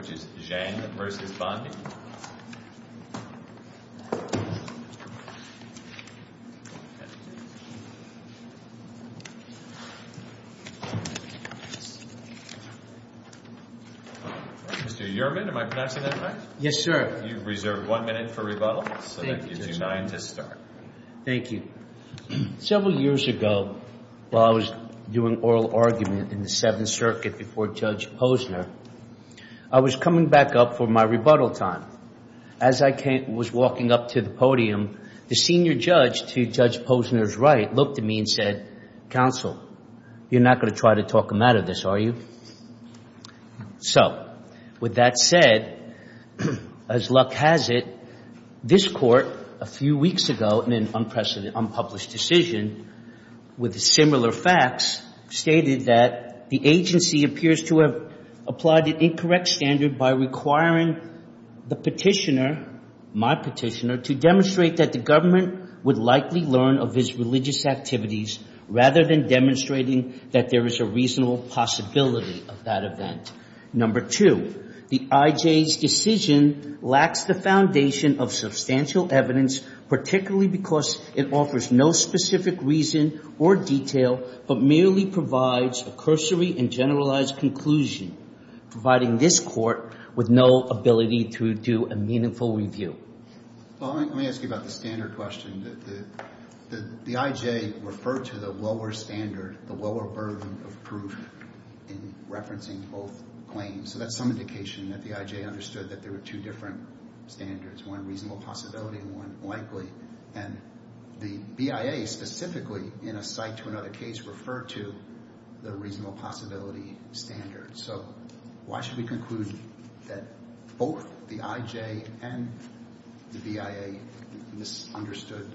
which is Zhang versus Bondi. Mr. Yerman, am I pronouncing that right? Yes, sir. You've reserved one minute for rebuttal, so that gives you nine to start. Thank you. Several years ago, while I was doing oral argument in the Seventh Circuit before Judge Posner, I was coming back up for my rebuttal time. As I was walking up to the podium, the senior judge to Judge Posner's right looked at me and said, counsel, you're not going to try to talk him out of this, are you? So with that said, as luck has it, this court a few weeks ago in an unpublished decision with similar facts stated that the agency appears to have applied an incorrect standard by requiring the petitioner, my petitioner, to demonstrate that the government would likely learn of his religious activities rather than demonstrating that there is a reasonable possibility of that event. Number two, the IJ's decision lacks the foundation of substantial evidence, particularly because it offers no specific reason or detail, but merely provides a cursory and generalized conclusion, providing this court with no ability to do a meaningful review. Let me ask you about the standard question. The IJ referred to the lower standard, the lower burden of proof in referencing both claims. So that's some indication that the IJ understood that there were two different standards, one reasonable possibility and one likely. And the BIA specifically, in a cite to another case, referred to the reasonable possibility standard. So why should we conclude that both the IJ and the BIA misunderstood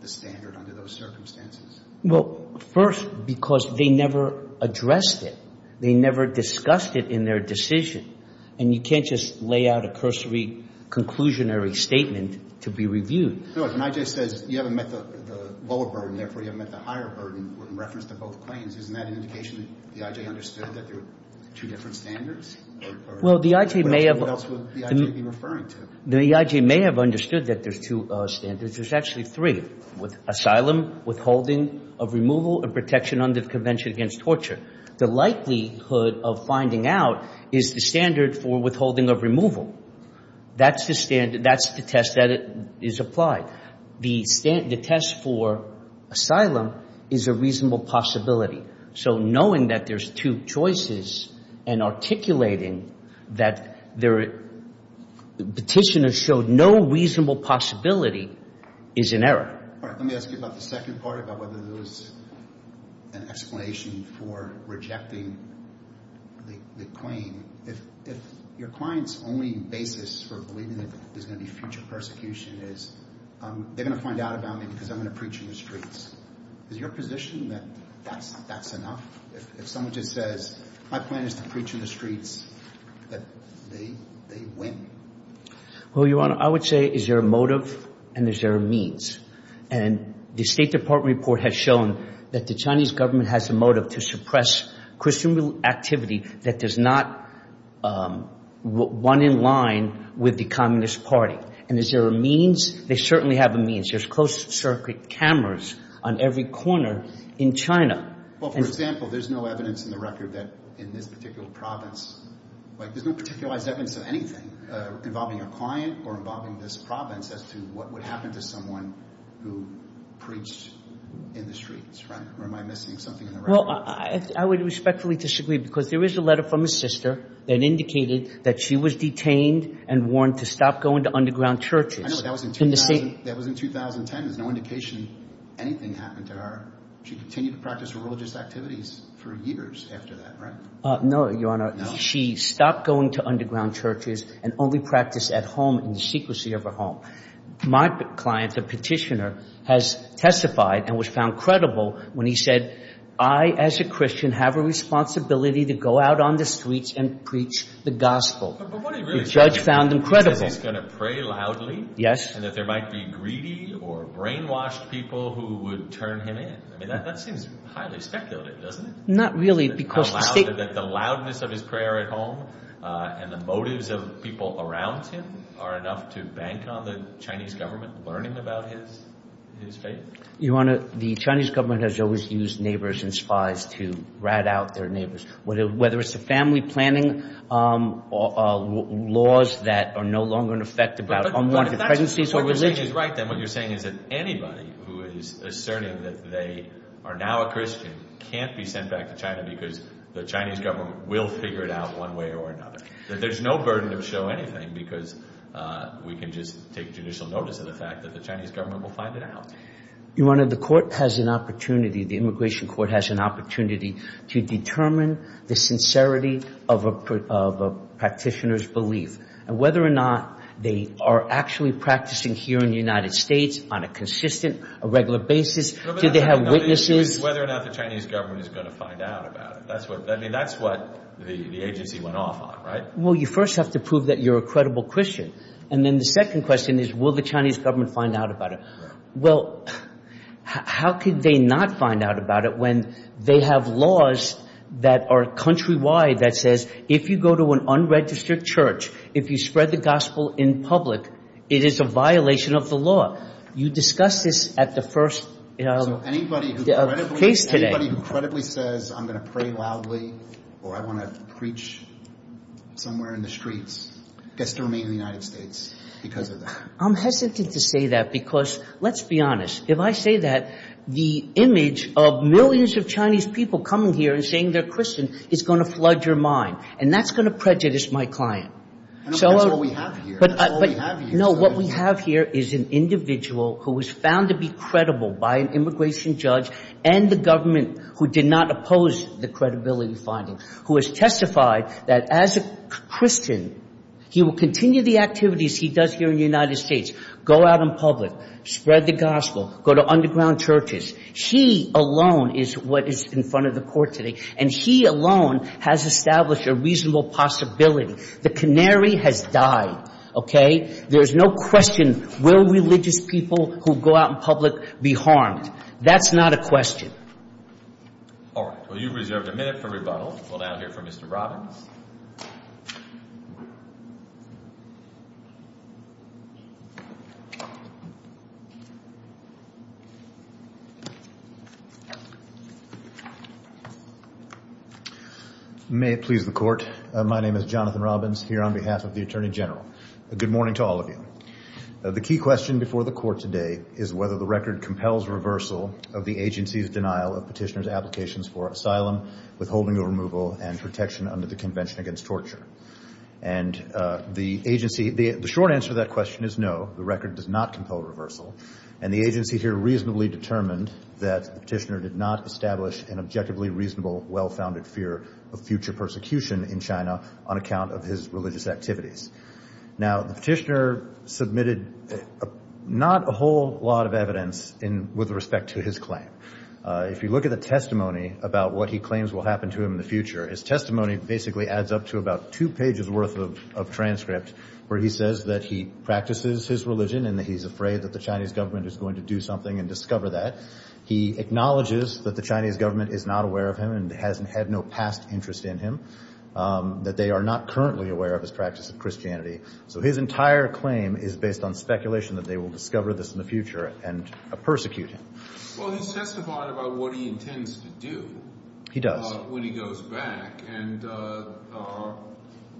the standard under those circumstances? Well, first, because they never addressed it. They never discussed it in their decision. And you can't just lay out a cursory, conclusionary statement to be reviewed. No, if an IJ says you haven't met the lower burden, therefore you haven't met the higher burden in reference to both claims, isn't that an indication that the IJ understood that there were two different standards? Well, the IJ may have... What else would the IJ be referring to? The IJ may have understood that there's two standards. There's actually three. Asylum, withholding of removal, and protection under the Convention Against Torture. The likelihood of finding out is the standard for withholding of removal. That's the test that is applied. The test for asylum is a reasonable possibility. So knowing that there's two choices and articulating that the petitioner showed no reasonable possibility is an error. Let me ask you about the second part, about whether there was an explanation for rejecting the claim. If your client's only basis for believing that there's going to be future persecution is, they're going to find out about me because I'm going to preach in the streets. Is your position that that's enough? If someone just says, my plan is to preach in the streets, that they win? Well, Your Honor, I would say is there a motive and is there a means? And the State Department report has shown that the Chinese government has a motive to suppress Christian activity that does not run in line with the Communist Party. And is there a means? They certainly have a means. There's closed-circuit cameras on every corner in China. Well, for example, there's no evidence in the record that in this particular province, like there's no particular evidence of anything involving a client or involving this province as to what would happen to someone who preached in the streets, right? Or am I missing something in the record? Well, I would respectfully disagree because there is a letter from his sister that indicated that she was detained and warned to stop going to underground churches. I know, but that was in 2010. There's no indication anything happened to her. She continued to practice her religious activities for years after that, right? No, Your Honor. She stopped going to underground churches and only practiced at home in the secrecy of her home. My client, the petitioner, has testified and was found credible when he said, I, as a Christian, have a responsibility to go out on the streets and preach the gospel. But what he really said is he's going to pray loudly? Yes. And that there might be greedy or brainwashed people who would turn him in. I mean, that seems highly speculative, doesn't it? Not really because the state... The loudness of his prayer at home and the motives of people around him are enough to bank on the Chinese government learning about his faith? Your Honor, the Chinese government has always used neighbors and spies to rat out their neighbors, whether it's the family planning laws that are no longer in effect about unwanted pregnancies or religion. What you're saying is right, then. What you're saying is that anybody who is asserting that they are now a Christian can't be sent back to China because the Chinese government will figure it out one way or another. There's no burden to show anything because we can just take judicial notice of the fact that the Chinese government will find it out. Your Honor, the court has an opportunity, the immigration court has an opportunity to determine the sincerity of a practitioner's belief and whether or not they are actually practicing here in the United States on a consistent, a regular basis. Do they have witnesses? Whether or not the Chinese government is going to find out about it. That's what the agency went off on, right? Well, you first have to prove that you're a credible Christian. And then the second question is, will the Chinese government find out about it? Well, how could they not find out about it when they have laws that are countrywide that says if you go to an unregistered church, if you spread the gospel in public, it is a violation of the law. You discussed this at the first case today. So anybody who credibly says I'm going to pray loudly or I want to preach somewhere in the streets gets to remain in the United States because of that? I'm hesitant to say that because, let's be honest, if I say that, the image of millions of Chinese people coming here and saying they're Christian is going to flood your mind. And that's going to prejudice my client. That's all we have here. No, what we have here is an individual who was found to be credible by an immigration judge and the government who did not oppose the credibility finding, who has testified that as a Christian, he will continue the activities he does here in the United States, go out in public, spread the gospel, go to underground churches. He alone is what is in front of the court today. And he alone has established a reasonable possibility. The canary has died. Okay? There's no question, will religious people who go out in public be harmed? That's not a question. All right. Well, you've reserved a minute for rebuttal. We'll now hear from Mr. Robbins. May it please the court. My name is Jonathan Robbins here on behalf of the Attorney General. Good morning to all of you. The key question before the court today is whether the record compels reversal of the agency's denial of petitioner's applications for asylum, withholding of removal, and protection under the Convention Against Torture. And the agency, the short answer to that question is no. The record does not compel reversal. And the agency here reasonably determined that the petitioner did not establish an objectively reasonable, well-founded fear of future persecution in China on account of his religious activities. Now, the petitioner submitted not a whole lot of evidence with respect to his claim. If you look at the testimony about what he claims will happen to him in the future, his testimony basically adds up to about two pages worth of transcript where he says that he practices his religion and that he's afraid that the Chinese government is going to do something and discover that. He acknowledges that the Chinese government is not aware of him and hasn't had no past interest in him, that they are not currently aware of his practice of Christianity. So his entire claim is based on speculation that they will discover this in the future and persecute him. Well, he testified about what he intends to do. He does. When he goes back. And the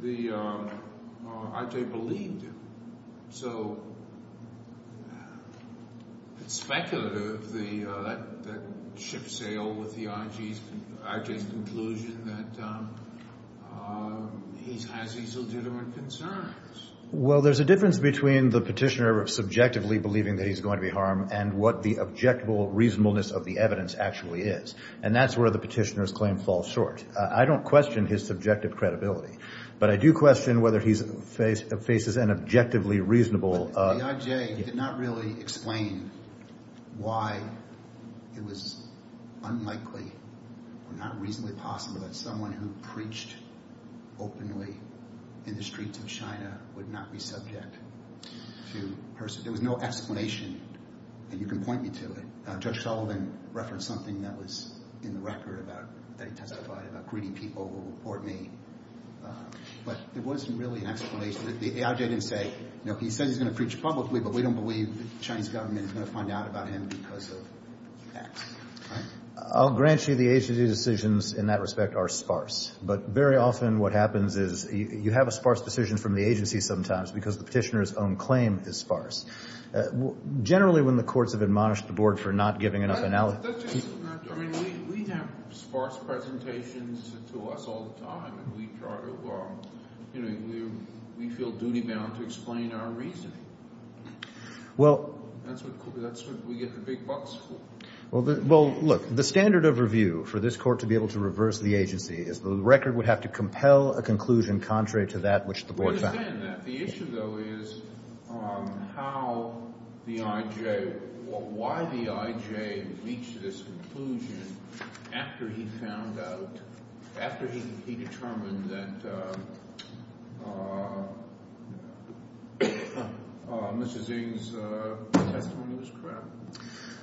IJ believed him. So it's speculative. That shipsail with the IJ's conclusion that he has these legitimate concerns. Well, there's a difference between the petitioner subjectively believing that he's going to be harmed and what the objectable reasonableness of the evidence actually is. And that's where the petitioner's claim falls short. I don't question his subjective credibility, but I do question whether he faces an objectively reasonable... The IJ did not really explain why it was unlikely or not reasonably possible that someone who preached openly in the streets of China would not be subject to persecution. There was no explanation. And you can point me to it. Judge Sullivan referenced something that was in the record about, that he testified about greedy people who report me. But there wasn't really an explanation. The IJ didn't say, you know, he said he's going to preach publicly, but we don't believe the Chinese government is going to find out about him because of facts. I'll grant you the agency decisions in that respect are sparse. But very often what happens is you have a sparse decision from the agency sometimes because the petitioner's own claim is sparse. Generally, when the courts have admonished the board for not giving enough analysis... I mean, we have sparse presentations to us all the time. We try to, you know, we feel duty-bound to explain our reasoning. Well... That's what we get the big bucks for. Well, look, the standard of review for this court to be able to reverse the agency is the record would have to compel a conclusion contrary to that which the board found. I understand that. The issue, though, is how the IJ... why the IJ reached this conclusion after he found out... after he determined that Mrs. Ng's testimony was correct.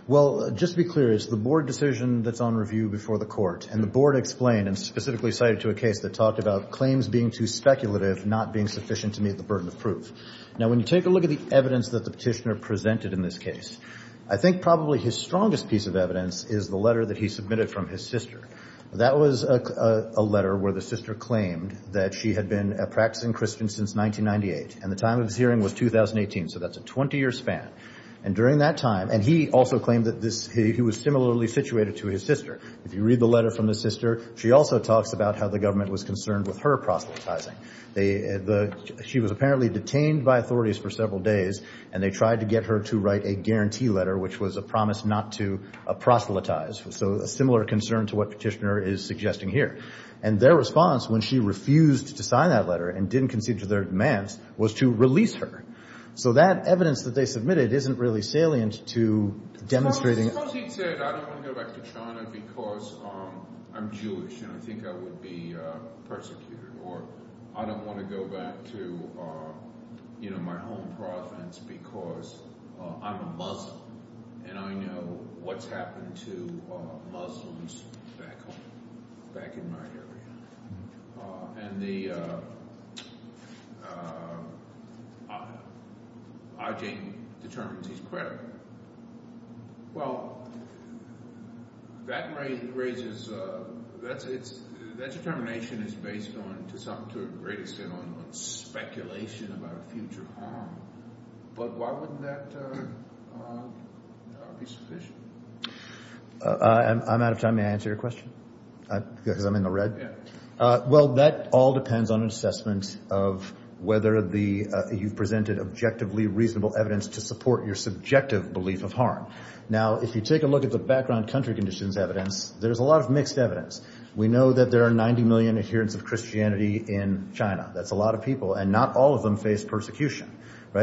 Well, just to be clear, it's the board decision that's on review before the court. And the board explained and specifically cited to a case that talked about being too speculative, not being sufficient to meet the burden of proof. Now, when you take a look at the evidence that the petitioner presented in this case, I think probably his strongest piece of evidence is the letter that he submitted from his sister. That was a letter where the sister claimed that she had been a practicing Christian since 1998. And the time of this hearing was 2018. So that's a 20-year span. And during that time... And he also claimed that this... He was similarly situated to his sister. If you read the letter from his sister, she also talks about how the government was concerned with her proselytizing. She was apparently detained by authorities for several days and they tried to get her to write a guarantee letter, which was a promise not to proselytize. So a similar concern to what the petitioner is suggesting here. And their response, when she refused to sign that letter and didn't concede to their demands, was to release her. So that evidence that they submitted isn't really salient to demonstrating... Suppose he said, I don't want to go back to China because I'm Jewish and I think I would be persecuted. Or I don't want to go back to my home province because I'm a Muslim and I know what's happened to Muslims back home, back in my area. Ajay determines he's credible. Well, that determination is based to a great extent on speculation about future harm. But why wouldn't that be sufficient? I'm out of time. May I answer your question? Because I'm in the red? Well, that all depends on an assessment of whether you've presented objectively reasonable evidence to support your subjective belief of harm. Now, if you take a look at the background country conditions evidence, there's a lot of mixed evidence. We know that there are 90 million adherents of Christianity in China. That's a lot of people. And not all of them face persecution.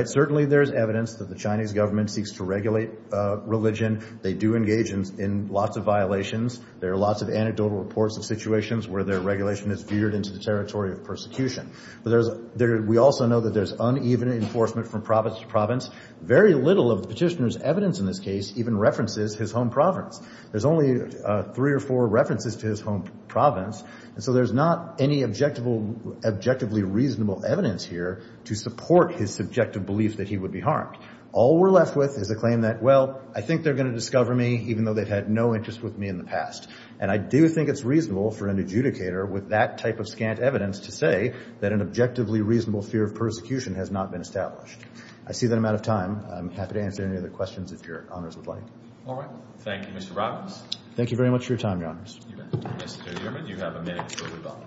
Certainly there's evidence that the Chinese government seeks to regulate religion. They do engage in lots of violations. There are lots of anecdotal reports of situations where their regulation is veered into the territory of persecution. We also know that there's uneven enforcement from province to province. Very little of the petitioner's evidence in this case even references his home province. There's only three or four references to his home province. And so there's not any objectively reasonable evidence here to support his subjective belief that he would be harmed. All we're left with is a claim that, well, I think they're going to discover me even though they've had no interest with me in the past. And I do think it's reasonable for an adjudicator with that type of scant evidence to say that an objectively reasonable fear of persecution has not been established. I see that I'm out of time. I'm happy to answer any other questions if Your Honors would like. All right. Thank you, Mr. Robbins. Thank you very much for your time, Your Honors. Mr. Dierman, you have a minute before the bell.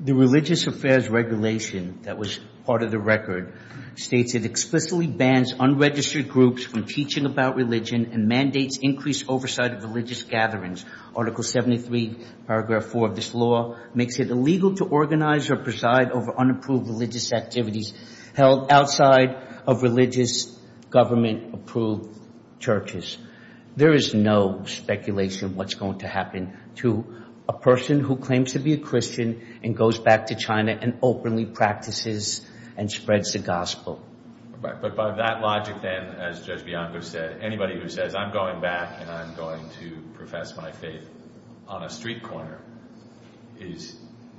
The Religious Affairs Regulation that was part of the record states it explicitly bans unregistered groups from teaching about religion and mandates increased oversight of religious gatherings. Article 73, Paragraph 4 of this law makes it illegal to organize or preside over unapproved religious activities held outside of religious government-approved churches. There is no speculation of what's going to happen to a person who claims to be a Christian and goes back to China and openly practices and spreads the gospel. But by that logic, then, as Judge Bianco said, anybody who says, I'm going back and I'm going to profess my faith on a street corner is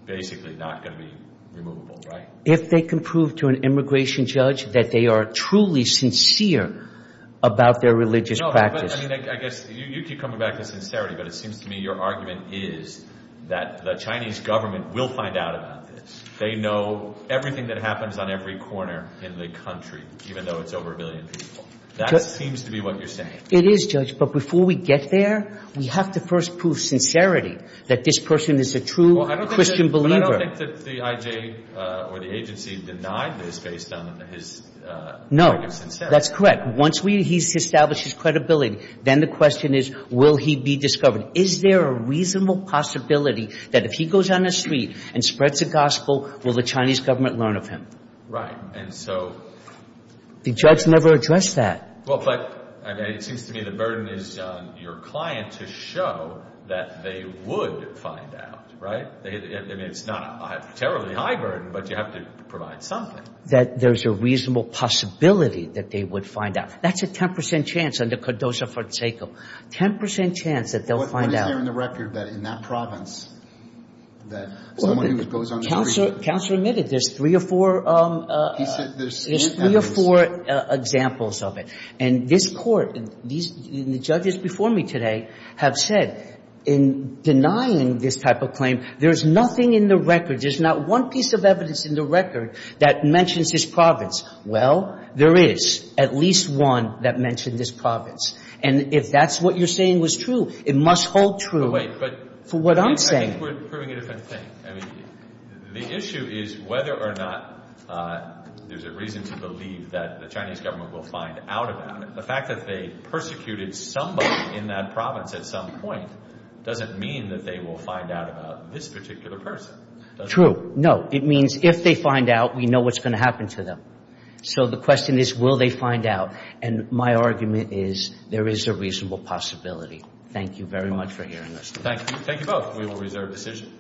basically not going to be removable, right? If they can prove to an immigration judge that they are truly sincere about their religious practice... No, but I mean, I guess, you keep coming back to sincerity, but it seems to me your argument is that the Chinese government will find out about this. They know everything that happens on every corner in the country even though it's over a billion people. That seems to be what you're saying. It is, Judge, but before we get there, we have to first prove sincerity that this person is a true Christian believer. But I don't think that the IJ or the agency denied this based on his... No, that's correct. Once he's established his credibility, then the question is, will he be discovered? Is there a reasonable possibility that if he goes on the street and spreads the gospel, will the Chinese government learn of him? Right, and so... The judge never addressed that. Well, but it seems to me the burden is on your client to show that they would find out. Right? I mean, it's not a terribly high burden, but you have to provide something. That there's a reasonable possibility that they would find out. That's a 10% chance under Codoza-Fonseca. 10% chance that they'll find out. What is there in the record that in that province that someone who goes on the street... Counselor admitted there's three or four... He said there's... There's three or four examples of it. And this Court, and the judges before me today have said, in denying this type of claim, there's nothing in the record, there's not one piece of evidence in the record that mentions this province. Well, there is at least one that mentioned this province. And if that's what you're saying was true, it must hold true for what I'm saying. I think we're proving a different thing. I mean, the issue is whether or not there's a reason to believe that the Chinese government will find out about it. The fact that they persecuted somebody in that province at some point doesn't mean that they will find out about this particular person. True. No. It means if they find out, we know what's going to happen to them. So the question is will they find out? And my argument is there is a reasonable possibility. Thank you very much for hearing us today. Thank you both. We will reserve decision.